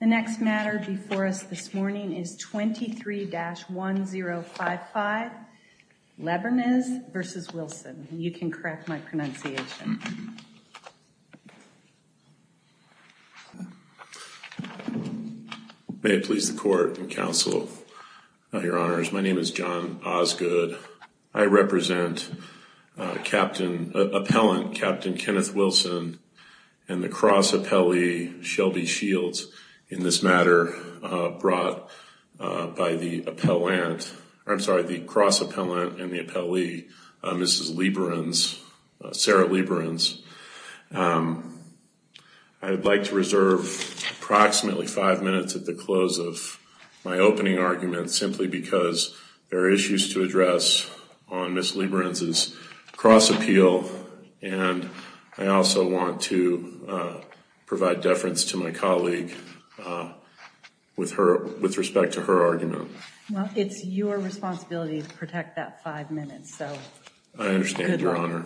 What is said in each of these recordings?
The next matter before us this morning is 23-1055, Leberenz v. Wilson. You can correct my pronunciation. May it please the court and counsel, your honors, my name is John Osgood. I represent Captain, Appellant Captain Kenneth Wilson and the cross appellee Shelby Shields in this matter brought by the appellant, I'm sorry, the cross appellant and the appellee Mrs. Leberenz, Sarah Leberenz. I would like to reserve approximately five minutes at the close of my opening argument simply because there are issues to address on Mrs. Leberenz's cross appeal and I also want to provide deference to my colleague with her, with respect to her argument. Well, it's your responsibility to protect that five minutes, so good luck. I understand, your honor.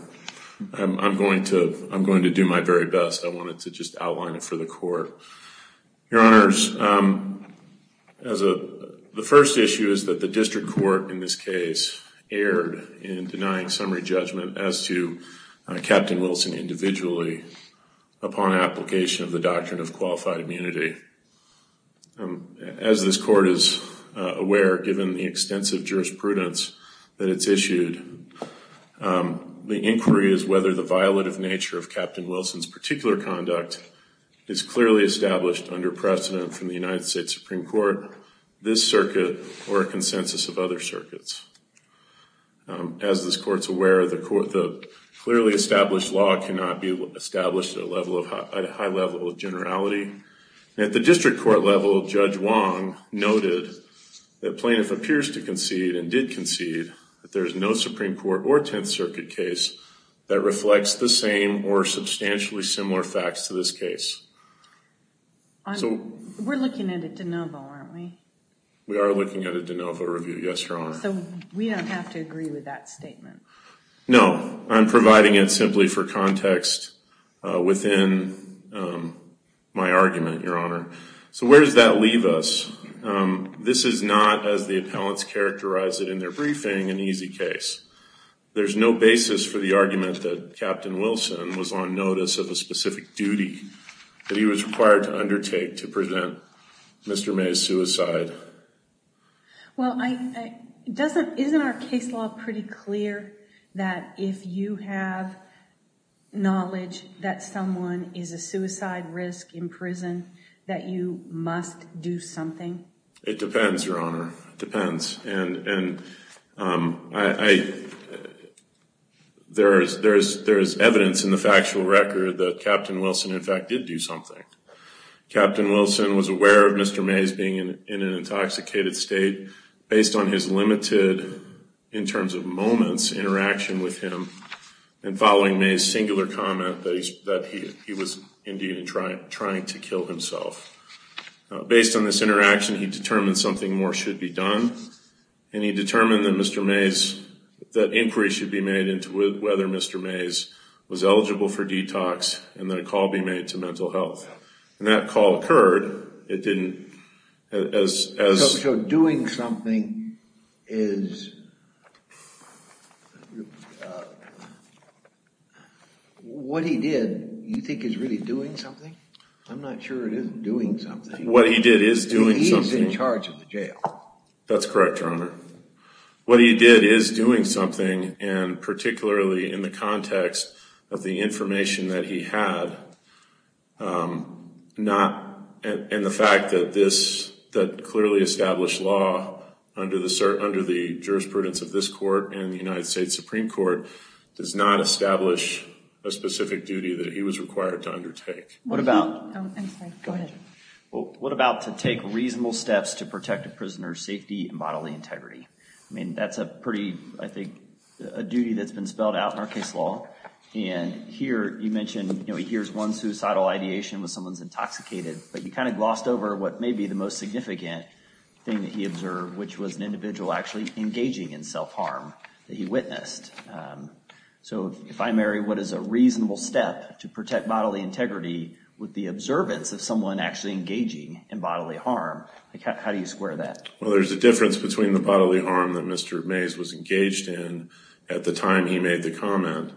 I'm going to, I'm going to do my very best, I wanted to just outline it for the court. Your honors, as a, the first issue is that the district court in this case erred in denying summary judgment as to Captain Wilson individually upon application of the doctrine of qualified immunity. As this court is aware, given the extensive jurisprudence that it's issued, the inquiry is to determine whether the violative nature of Captain Wilson's particular conduct is clearly established under precedent from the United States Supreme Court, this circuit, or a consensus of other circuits. As this court's aware, the clearly established law cannot be established at a high level of generality. And at the district court level, Judge Wong noted that plaintiff appears to concede and that reflects the same or substantially similar facts to this case. We're looking at a de novo, aren't we? We are looking at a de novo review, yes, your honor. So we don't have to agree with that statement? No, I'm providing it simply for context within my argument, your honor. So where does that leave us? This is not, as the appellants characterize it in their briefing, an easy case. There's no basis for the argument that Captain Wilson was on notice of a specific duty that he was required to undertake to prevent Mr. May's suicide. Well, isn't our case law pretty clear that if you have knowledge that someone is a suicide risk in prison, that you must do something? It depends, your honor. It depends. And there is evidence in the factual record that Captain Wilson, in fact, did do something. Captain Wilson was aware of Mr. May's being in an intoxicated state based on his limited, in terms of moments, interaction with him and following May's singular comment that he was indeed trying to kill himself. Based on this interaction, he determined something more should be done, and he determined that Mr. May's, that inquiry should be made into whether Mr. May's was eligible for detox and that a call be made to mental health. And that call occurred. It didn't, as... So doing something is... What he did, you think is really doing something? I'm not sure it is doing something. What he did is doing something. He's in charge of the jail. That's correct, your honor. What he did is doing something, and particularly in the context of the information that he had, not, and the fact that this, that clearly established law under the jurisprudence of this court and the United States Supreme Court, does not establish a specific duty that he was required to undertake. I'm sorry, go ahead. What about to take reasonable steps to protect a prisoner's safety and bodily integrity? I mean, that's a pretty, I think, a duty that's been spelled out in our case law, and here you mentioned, you know, he hears one suicidal ideation when someone's intoxicated, but he kind of glossed over what may be the most significant thing that he observed, which was an individual actually engaging in self-harm that he witnessed. So, if I marry what is a reasonable step to protect bodily integrity with the observance of someone actually engaging in bodily harm, how do you square that? Well, there's a difference between the bodily harm that Mr. Mays was engaged in at the time he made the comment,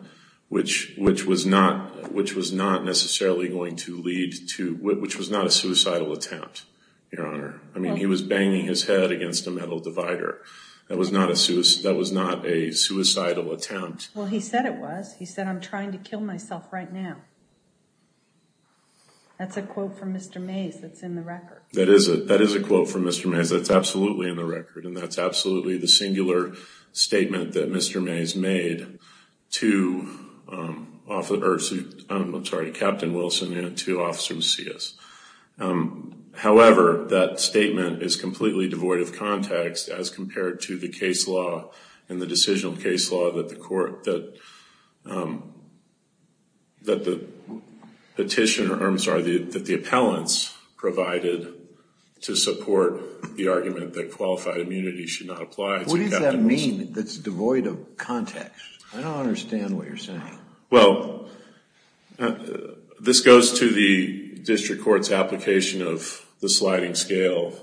which was not necessarily going to lead to, which was not a suicidal attempt, your honor. I mean, he was banging his head against a metal divider. That was not a suicidal attempt. Well, he said it was. He said, I'm trying to kill myself right now. That's a quote from Mr. Mays that's in the record. That is a quote from Mr. Mays that's absolutely in the record, and that's absolutely the singular statement that Mr. Mays made to Captain Wilson and to Officer Macias. However, that statement is completely devoid of context as compared to the case law and the decisional case law that the court, that the petitioner, I'm sorry, that the appellants provided to support the argument that qualified immunity should not apply to Captain Wilson. What does that mean that's devoid of context? I don't understand what you're saying. Well, this goes to the district court's application of the sliding scale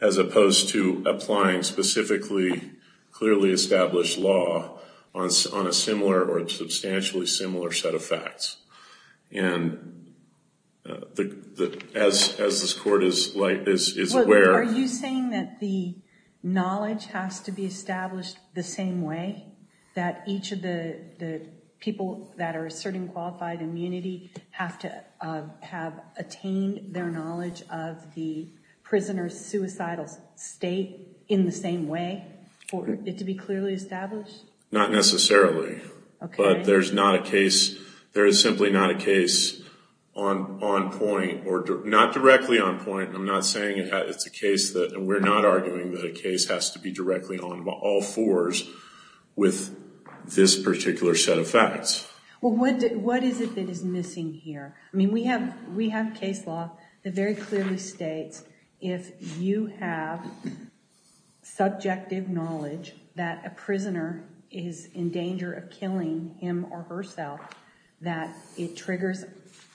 as opposed to applying specifically clearly established law on a similar or a substantially similar set of facts. And as this court is aware... Are you saying that the knowledge has to be established the same way, that each of the people that are asserting qualified immunity have to have attained their knowledge of the prisoner's suicidal state in the same way for it to be clearly established? Not necessarily. Okay. But there's not a case, there is simply not a case on point, or not directly on point. I'm not saying it's a case that, and we're not arguing that a case has to be directly on all fours with this particular set of facts. Well, what is it that is missing here? I mean, we have case law that very clearly states if you have subjective knowledge that a prisoner is in danger of killing him or herself, that it triggers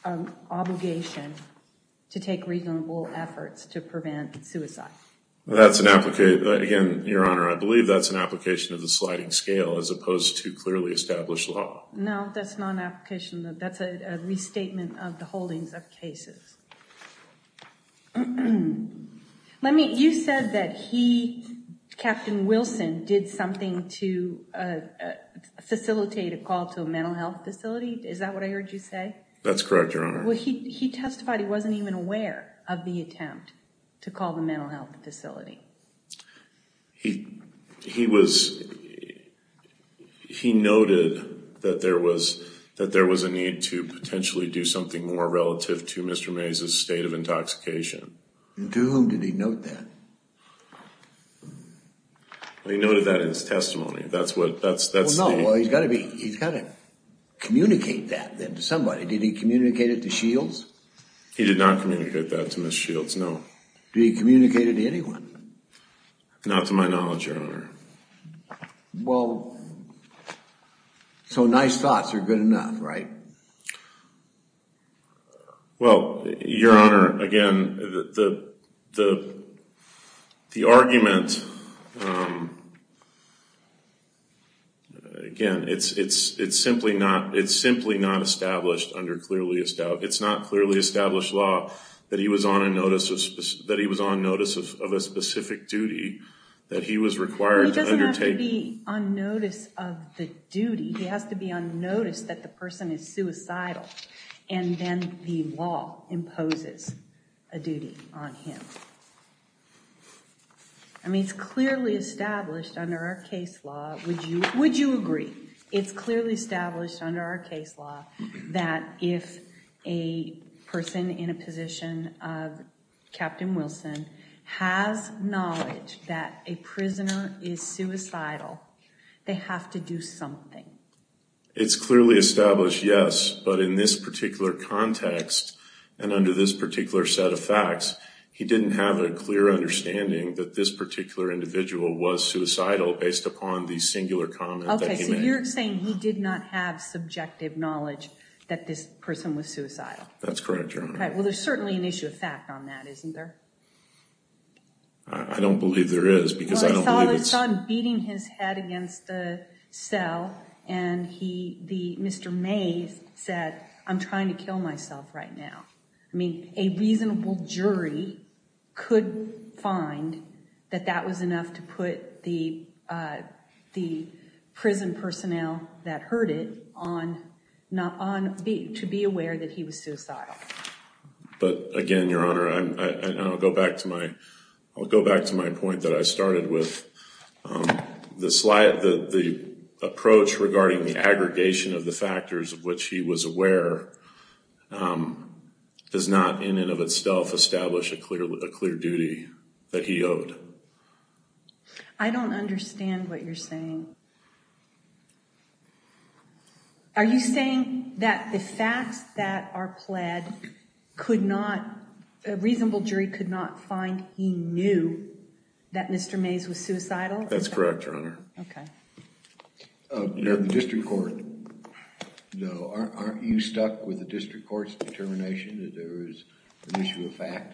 an obligation to take reasonable efforts to prevent suicide. That's an application... Again, Your Honor, I believe that's an application of the sliding scale as opposed to clearly established law. No, that's not an application. That's a restatement of the holdings of cases. Let me... You said that he, Captain Wilson, did something to facilitate a call to a mental health facility. Is that what I heard you say? That's correct, Your Honor. Well, he testified he wasn't even aware of the attempt to call the mental health facility. He noted that there was a need to potentially do something more relative to Mr. Mays' state of intoxication. To whom did he note that? He noted that in his testimony. That's the... Well, no. He's got to communicate that then to somebody. Did he communicate it to Shields? He did not communicate that to Ms. Shields, no. Did he communicate it to anyone? Not to my knowledge, Your Honor. Well, so nice thoughts are good enough, right? Well, Your Honor, again, the argument... Again, it's simply not established under clearly established... It's not clearly established law that he was on notice of a specific duty that he was required to undertake. Well, he doesn't have to be on notice of the duty. He has to be on notice that the person is suicidal, and then the law imposes a duty on him. I mean, it's clearly established under our case law. Would you agree? It's clearly established under our case law that if a person in a position of Captain It's clearly established, yes, but in this particular context and under this particular set of facts, he didn't have a clear understanding that this particular individual was suicidal based upon the singular comment that he made. Okay, so you're saying he did not have subjective knowledge that this person was suicidal. That's correct, Your Honor. Okay, well, there's certainly an issue of fact on that, isn't there? I don't believe there is because I don't believe it's... I saw him beating his head against the cell, and Mr. Mays said, I'm trying to kill myself right now. I mean, a reasonable jury could find that that was enough to put the prison personnel that heard it to be aware that he was suicidal. But again, Your Honor, I'll go back to my point that I started with. The approach regarding the aggregation of the factors of which he was aware does not in and of itself establish a clear duty that he owed. Are you saying that the facts that are pled could not... a reasonable jury could not find he knew that Mr. Mays was suicidal? That's correct, Your Honor. Okay. The district court, though, aren't you stuck with the district court's determination that there is an issue of fact?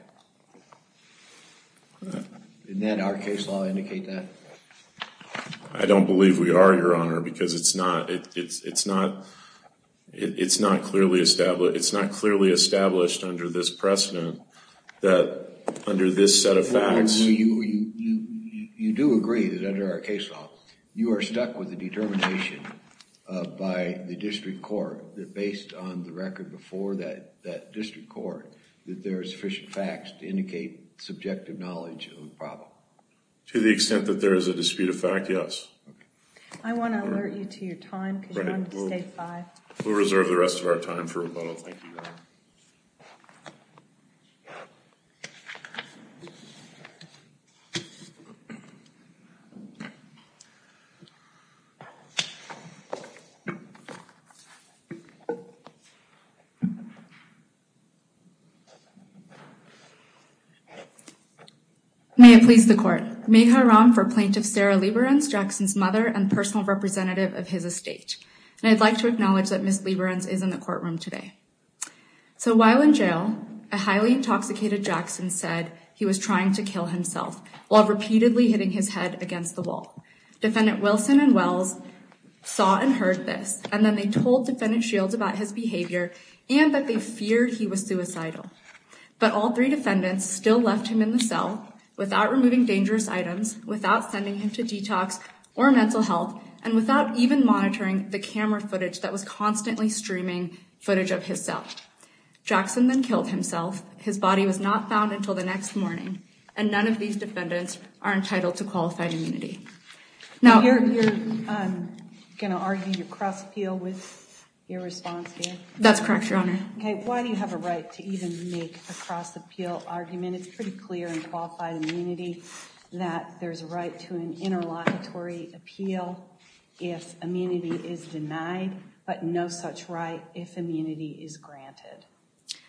Didn't our case law indicate that? I don't believe we are, Your Honor, because it's not... it's not clearly established under this precedent that under this set of facts... You do agree that under our case law, you are stuck with the determination by the district court that based on the record before that district court that there are sufficient facts to indicate subjective knowledge of the problem. To the extent that there is a dispute of fact, yes. I want to alert you to your time because you wanted to stay five. We'll reserve the rest of our time for rebuttal. Thank you, Your Honor. May it please the court. Meharam for Plaintiff Sarah Liberanz, Jackson's mother, and personal representative of his estate. And I'd like to acknowledge that Ms. Liberanz is in the courtroom today. So while in jail, a highly intoxicated Jackson said he was trying to kill himself while repeatedly hitting his head against the wall. Defendant Wilson and Wells saw and heard this, and then they told defendant Shields about his behavior and that they feared he was suicidal. But all three defendants still left him in the cell without removing dangerous items, without sending him to detox or mental health, and without even monitoring the camera footage that was constantly streaming footage of his cell. Jackson then killed himself. His body was not found until the next morning. And none of these defendants are entitled to qualified immunity. Now you're going to argue your cross appeal with your response here. That's correct, your honor. Okay. Why do you have a right to even make a cross appeal argument? It's pretty clear in qualified immunity that there's a right to an interlocutory appeal if immunity is denied, but no such right if immunity is granted.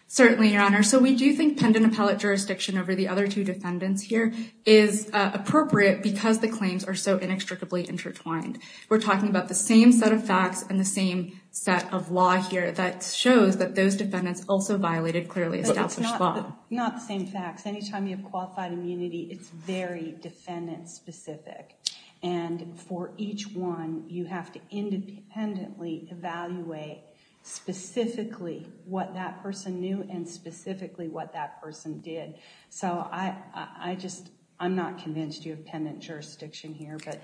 Certainly, your honor. So we do think pendant appellate jurisdiction over the other two defendants here is appropriate because the claims are so inextricably intertwined. We're talking about the same set of facts and the same set of law here that shows that those defendants also violated clearly established law. Not the same facts. Anytime you have qualified immunity, it's very defendant specific. And for each one, you have to independently evaluate specifically what that person knew and specifically what that person did. So I just, I'm not convinced you have pendant jurisdiction here, but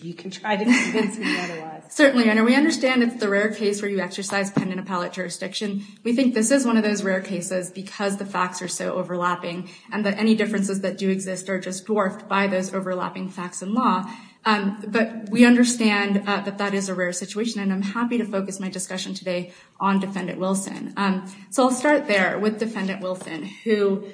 you can try to convince me otherwise. Certainly, your honor. We understand it's the rare case where you exercise pendant appellate jurisdiction, we think this is one of those rare cases because the facts are so overlapping and that any differences that do exist are just dwarfed by those But we understand that that is a rare situation. And I'm happy to focus my discussion today on defendant Wilson. So I'll start there with defendant Wilson, who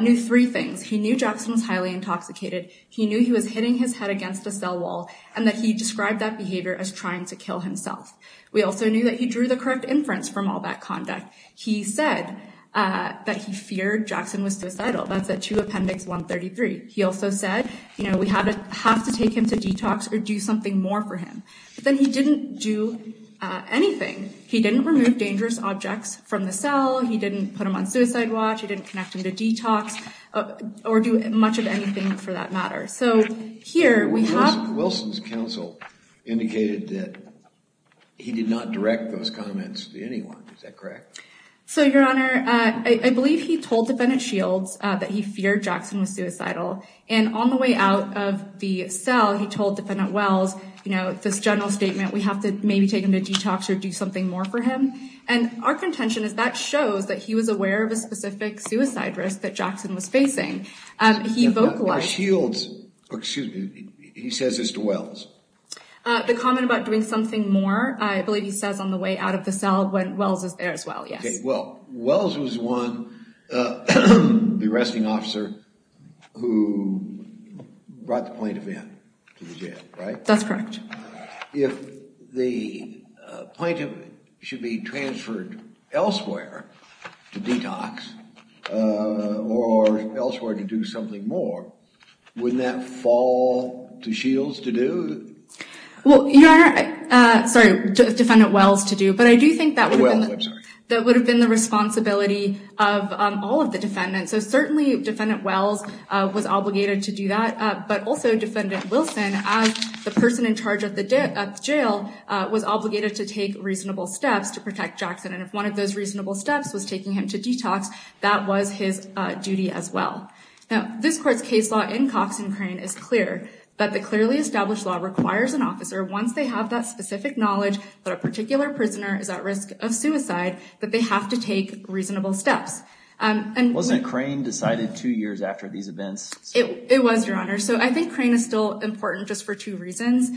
knew three things. He knew Jackson was highly intoxicated. He knew he was hitting his head against a cell wall and that he described that behavior as trying to kill himself. We also knew that he drew the correct inference from all that conduct. He said that he feared Jackson was suicidal. That's at 2 Appendix 133. He also said, you know, we have to, have to take him to detox or do something more for him, but then he didn't do anything. He didn't remove dangerous objects from the cell. He didn't put him on suicide watch. He didn't connect him to detox or do much of anything for that matter. So here we have- Wilson's counsel indicated that he did not direct those comments to anyone. Is that correct? So your honor, I believe he told defendant Shields that he feared Jackson was suicidal and on the way out of the cell, he told defendant Wells, you know, this general statement, we have to maybe take him to detox or do something more for him. And our contention is that shows that he was aware of a specific suicide risk that Jackson was facing. He vocalized- Shields, excuse me, he says this to Wells? The comment about doing something more. I believe he says on the way out of the cell when Wells is there as well. Yes. Well, Wells was one, the arresting officer who brought the plaintiff in to the jail, right? That's correct. If the plaintiff should be transferred elsewhere to detox or elsewhere to do something more, wouldn't that fall to Shields to do? Well, your honor, sorry, defendant Wells to do, but I do think that would have been the responsibility of all of the defendants. So certainly defendant Wells was obligated to do that. But also defendant Wilson, as the person in charge of the jail, was obligated to take reasonable steps to protect Jackson. And if one of those reasonable steps was taking him to detox, that was his duty as well. Now, this court's case law in Cox and Crane is clear that the clearly established law requires an officer, once they have that specific knowledge that a particular to take reasonable steps. And wasn't Crane decided two years after these events? It was, your honor. So I think Crane is still important just for two reasons.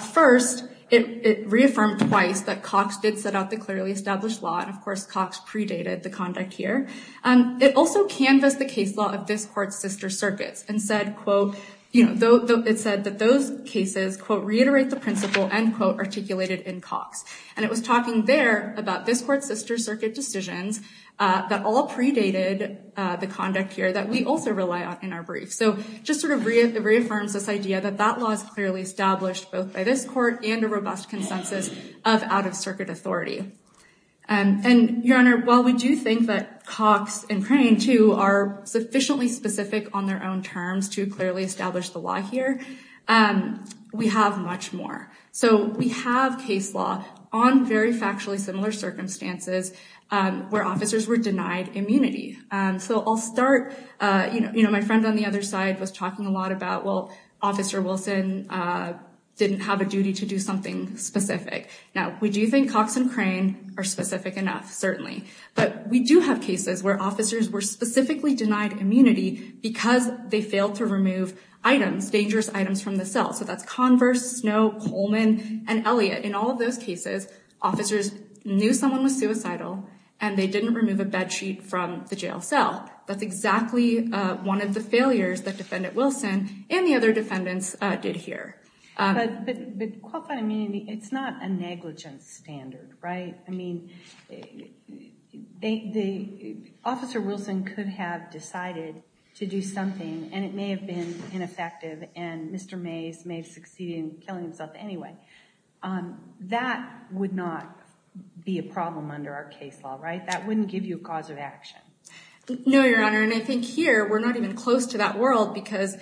First, it reaffirmed twice that Cox did set out the clearly established law. And of course, Cox predated the conduct here. It also canvassed the case law of this court's sister circuits and said, quote, you know, it said that those cases, quote, reiterate the principle, end quote, articulated in Cox. And it was talking there about this court's sister circuit decisions that all predated the conduct here that we also rely on in our brief. So just sort of reaffirms this idea that that law is clearly established both by this court and a robust consensus of out-of-circuit authority. And your honor, while we do think that Cox and Crane, too, are sufficiently specific on their own terms to clearly establish the law here, we have much more. So we have case law on very factually similar circumstances where officers were denied immunity. So I'll start, you know, my friend on the other side was talking a lot about, well, Officer Wilson didn't have a duty to do something specific. Now, we do think Cox and Crane are specific enough, certainly, but we do have cases where officers were specifically denied immunity because they failed to remove items, dangerous items from the cell. So that's Converse, Snow, Coleman and Elliott. In all of those cases, officers knew someone was suicidal and they didn't remove a bedsheet from the jail cell. That's exactly one of the failures that Defendant Wilson and the other defendants did here. But, quote by me, it's not a negligence standard, right? I mean, Officer Wilson could have decided to do something and it may have been ineffective and Mr. Mays may have succeeded in killing himself anyway. That would not be a problem under our case law, right? That wouldn't give you a cause of action. No, Your Honor, and I think here we're not even close to that world because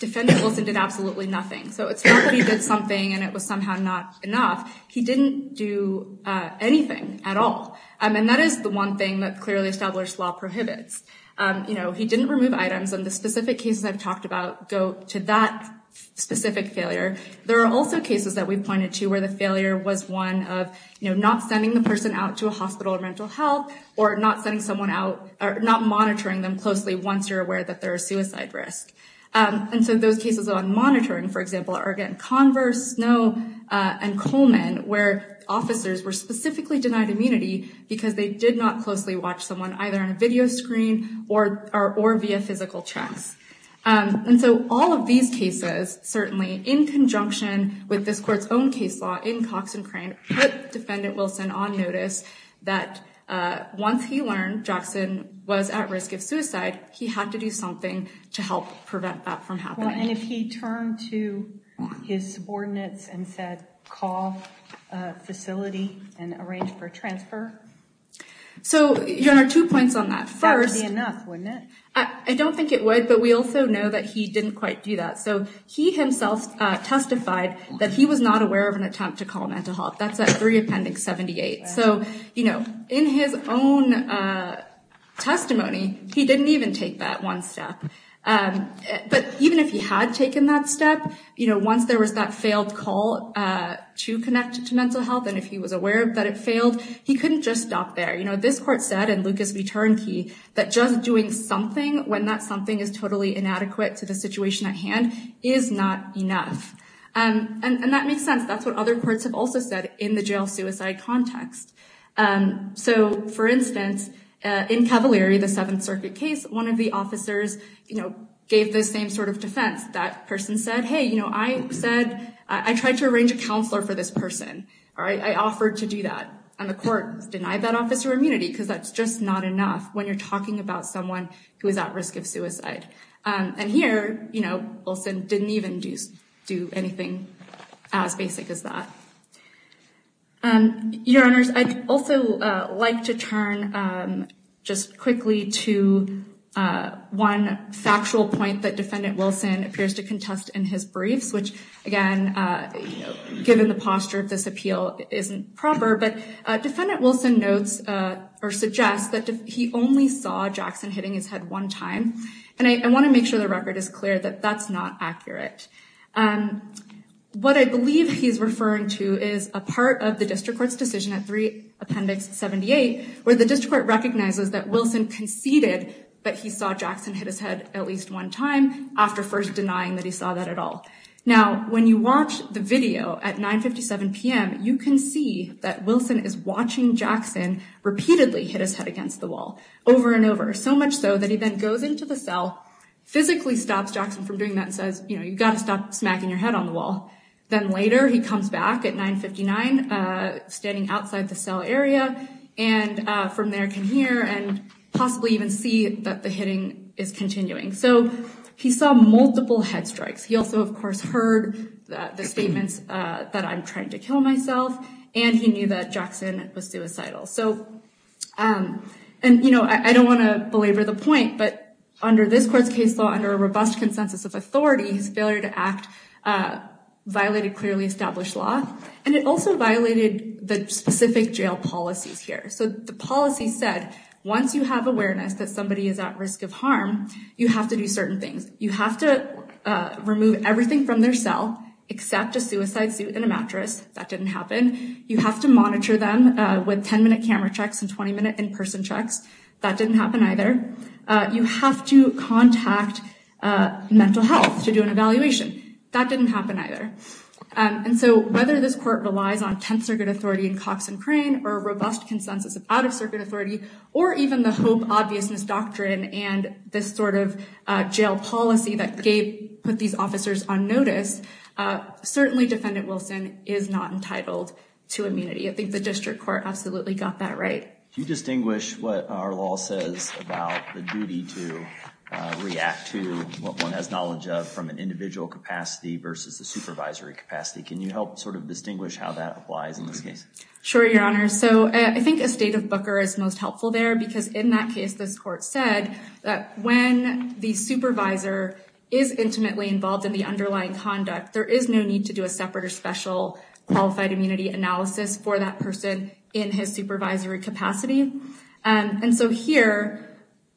Defendant Wilson did absolutely nothing. So it's not that he did something and it was somehow not enough. He didn't do anything at all. And that is the one thing that clearly established law prohibits. You know, he didn't remove items and the specific cases I've talked about go to that specific failure. There are also cases that we pointed to where the failure was one of not sending the person out to a hospital or mental health or not sending someone out or not monitoring them closely once you're aware that there are suicide risks. And so those cases on monitoring, for example, are again Converse, Snow and Coleman where officers were specifically denied immunity because they did not closely watch someone either on a video screen or or via physical checks. And so all of these cases, certainly in conjunction with this court's own case law in Cox and Crane, put Defendant Wilson on notice that once he learned Jackson was at risk of suicide, he had to do something to help prevent that from happening. And if he turned to his subordinates and said, call facility and arrange for transfer. So there are two points on that. First, I don't think it would. But we also know that he didn't quite do that. So he himself testified that he was not aware of an attempt to call mental health. That's at 3 Appendix 78. So, you know, in his own testimony, he didn't even take that one step. But even if he had taken that step, you know, once there was that failed call to connect to mental health and if he was aware that it failed, he couldn't just stop there. You know, this court said in Lucas Return Key that just doing something when that something is totally inadequate to the situation at hand is not enough. And that makes sense. That's what other courts have also said in the jail suicide context. So, for instance, in Cavalieri, the Seventh Circuit case, one of the officers, you know, gave the same sort of defense. That person said, hey, you know, I said I tried to arrange a counselor for this person. All right. I offered to do that. And the court denied that officer immunity because that's just not enough when you're talking about someone who is at risk of suicide. And here, you know, Wilson didn't even do anything as basic as that. And your honors, I'd also like to turn just quickly to one factual point that appears to contest in his briefs, which, again, given the posture of this appeal, isn't proper. But Defendant Wilson notes or suggests that he only saw Jackson hitting his head one time. And I want to make sure the record is clear that that's not accurate. What I believe he's referring to is a part of the district court's decision at 3 Appendix 78, where the district court recognizes that Wilson conceded that he saw Jackson hit his head at least one time after first denying that he saw that at all. Now, when you watch the video at 9.57 p.m., you can see that Wilson is watching Jackson repeatedly hit his head against the wall over and over, so much so that he then goes into the cell, physically stops Jackson from doing that and says, you know, you've got to stop smacking your head on the wall. Then later he comes back at 9.59, standing outside the cell area and from there can hear and possibly even see that the hitting is continuing. So he saw multiple head strikes. He also, of course, heard the statements that I'm trying to kill myself. And he knew that Jackson was suicidal. So and, you know, I don't want to belabor the point, but under this court's case law, under a robust consensus of authority, his failure to act violated clearly established law. And it also violated the specific jail policies here. So the policy said once you have awareness that somebody is at risk of harm, you have to do certain things. You have to remove everything from their cell except a suicide suit and a mattress. That didn't happen. You have to monitor them with 10 minute camera checks and 20 minute in-person checks. That didn't happen either. You have to contact mental health to do an evaluation. That didn't happen either. And so whether this court relies on tense or good authority in Cox and Crane or a robust consensus of out-of-circuit authority or even the hope obviousness doctrine and this sort of jail policy that Gabe put these officers on notice, certainly Defendant Wilson is not entitled to immunity. I think the district court absolutely got that right. Do you distinguish what our law says about the duty to react to what one has knowledge of from an individual capacity versus the supervisory capacity? Can you help sort of distinguish how that applies in this case? Sure, Your Honor. So I think a state of Booker is most helpful there because in that case, this court said that when the supervisor is intimately involved in the underlying conduct, there is no need to do a separate or special qualified immunity analysis for that person in his supervisory capacity. And so here,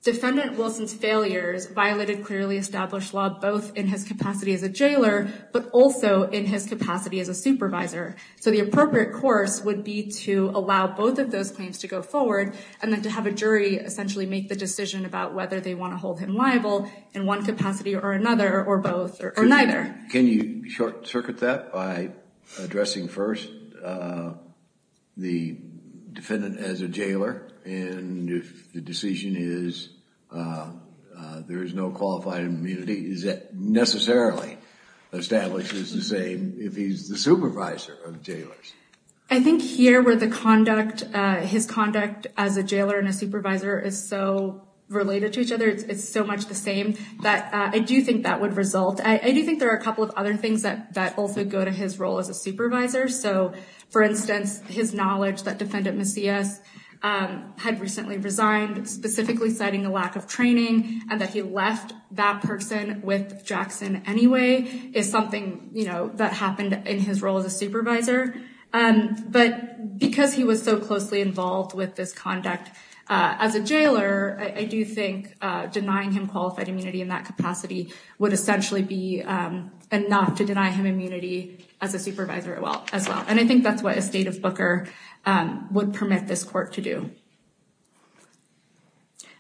Defendant Wilson's failures violated clearly established law both in his capacity as a jailor, but also in his capacity as a supervisor. So the appropriate course would be to allow both of those claims to go forward and then to have a jury essentially make the decision about whether they want to hold him liable in one capacity or another or both or neither. Can you short circuit that by addressing first the defendant as a jailor and if the decision is there is no qualified immunity, is that necessarily established as the same if he's the supervisor of jailors? I think here where the conduct, his conduct as a jailor and a supervisor is so related to each other, it's so much the same that I do think that would result. I do think there are a couple of other things that also go to his role as a supervisor. So, for instance, his knowledge that Defendant Macias had recently resigned, specifically citing a lack of training and that he left that person with Jackson anyway, is something that happened in his role as a supervisor. But because he was so closely involved with this conduct as a jailor, I do think denying him qualified immunity in that capacity would essentially be enough to deny him immunity as a supervisor as well. And I think that's what a state of Booker would permit this court to do.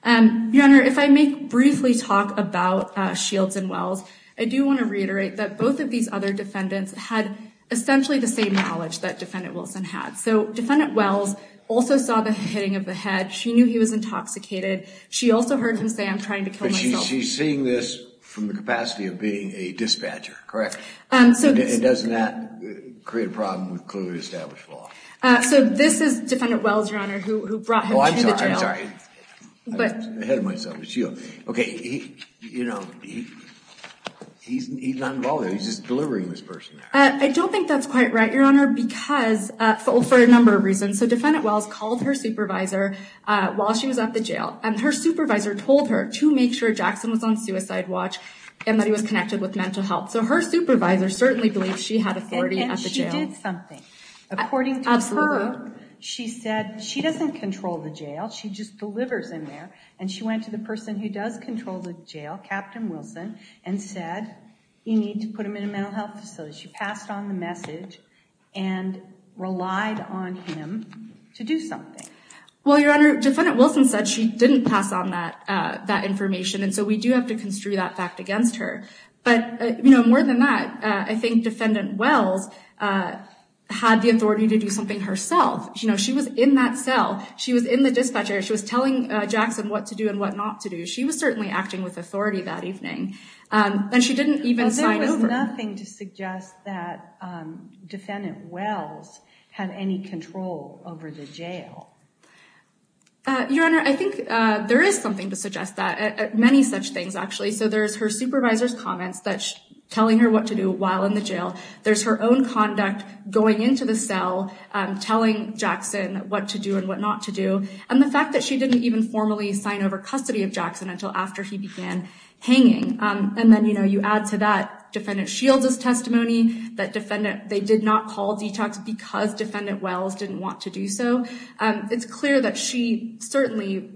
Your Honor, if I may briefly talk about Shields and Wells, I do want to reiterate that both of these other defendants had essentially the same knowledge that Defendant Wilson had. So Defendant Wells also saw the hitting of the head. She knew he was intoxicated. She also heard him say, I'm trying to kill myself. She's seeing this from the capacity of being a dispatcher, correct? And doesn't that create a problem with clearly established law? So this is Defendant Wells, Your Honor, who brought him to the jail. I'm sorry. I hit myself with Shields. OK, you know, he's not involved. He's just delivering this person. I don't think that's quite right, Your Honor, because for a number of reasons. So Defendant Wells called her supervisor while she was at the jail and her supervisor told her to make sure Jackson was on suicide watch and that he was connected with mental health. So her supervisor certainly believes she had authority at the jail. And she did something. According to her, she said she doesn't control the jail. She just delivers in there. And she went to the person who does control the jail, Captain Wilson, and said, you need to put him in a mental health facility. She passed on the message and relied on him to do something. Well, Your Honor, Defendant Wilson said she didn't pass on that that information. And so we do have to construe that fact against her. But, you know, more than that, I think Defendant Wells had the authority to do something herself. You know, she was in that cell. She was in the dispatcher. She was telling Jackson what to do and what not to do. She was certainly acting with authority that evening. And she didn't even sign over. There was nothing to suggest that Defendant Wells had any control over the jail. Your Honor, I think there is something to suggest that, many such things, actually. So there's her supervisor's comments that's telling her what to do while in the jail. There's her own conduct going into the cell, telling Jackson what to do and what not to do. And the fact that she didn't even formally sign over custody of Jackson until after he began hanging. And then, you know, you add to that Defendant Shields' testimony that they did not call detox because Defendant Wells didn't want to do so. It's clear that she certainly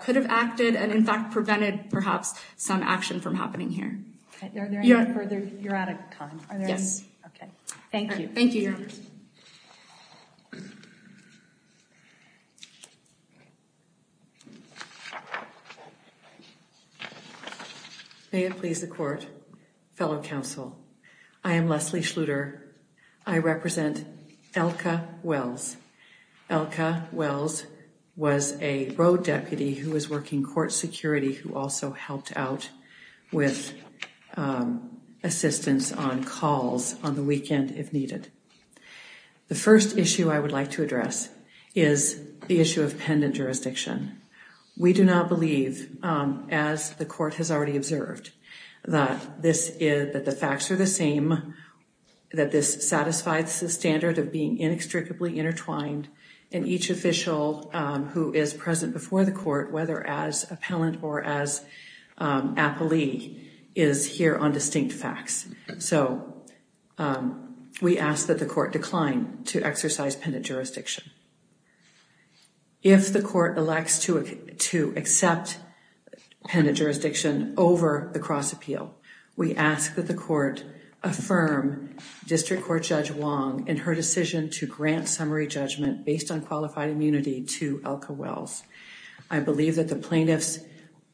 could have acted and, in fact, prevented, perhaps, some action from happening here. Are there any further? You're out of time. Yes. OK, thank you. Thank you, Your Honor. May it please the Court, fellow counsel, I am Leslie Schluter. I represent Elka Wells. Elka Wells was a road deputy who was working court security, who also helped out with assistance on calls on the weekend if needed. The first issue I would like to address is the issue of pendant jurisdiction. We do not believe, as the court has already observed, that the facts are the same, that this satisfies the standard of being inextricably intertwined, and each official who is present before the court, whether as appellant or as appellee, is here on distinct facts. So we ask that the court decline to exercise pendant jurisdiction. If the court elects to accept pendant jurisdiction over the cross appeal, we ask that the District Court Judge Wong, in her decision to grant summary judgment based on qualified immunity, to Elka Wells. I believe that the plaintiff's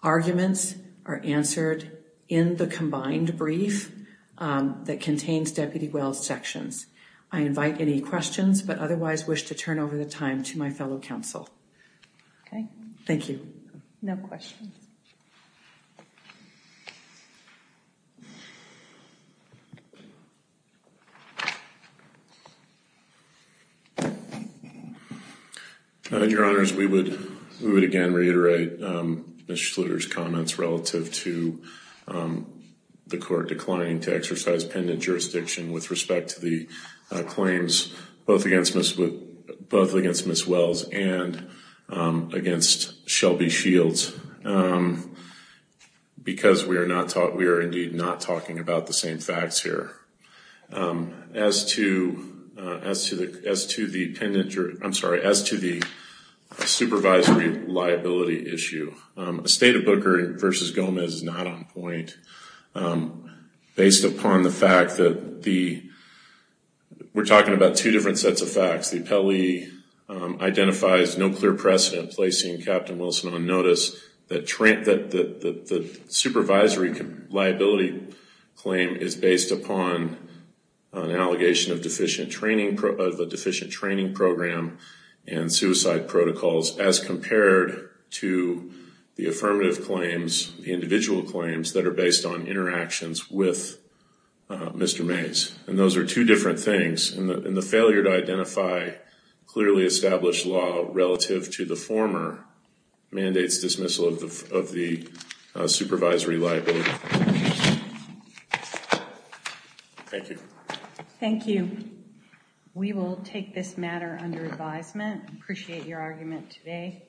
arguments are answered in the combined brief that contains Deputy Wells' sections. I invite any questions, but otherwise wish to turn over the time to my fellow counsel. OK. Thank you. No questions. Your Honor, we would again reiterate Ms. Schluter's comments relative to the court declining to exercise pendant jurisdiction with respect to the claims, both against Ms. Wells and against Shelby Shields, because we are indeed not talking about the same facts here as to the supervisory liability issue. Estate of Booker v. Gomez is not on point based upon the fact that we're talking about two different sets of facts. The appellee identifies no clear precedent placing Captain Wilson on notice, that the supervisory liability claim is based upon an allegation of a deficient training program and suicide protocols as compared to the affirmative claims, the individual claims that are based on interactions with Mr. Mays. And those are two different things. And the failure to identify clearly established law relative to the former mandates dismissal of the supervisory liability. Thank you. Thank you. We will take this matter under advisement. Appreciate your argument today.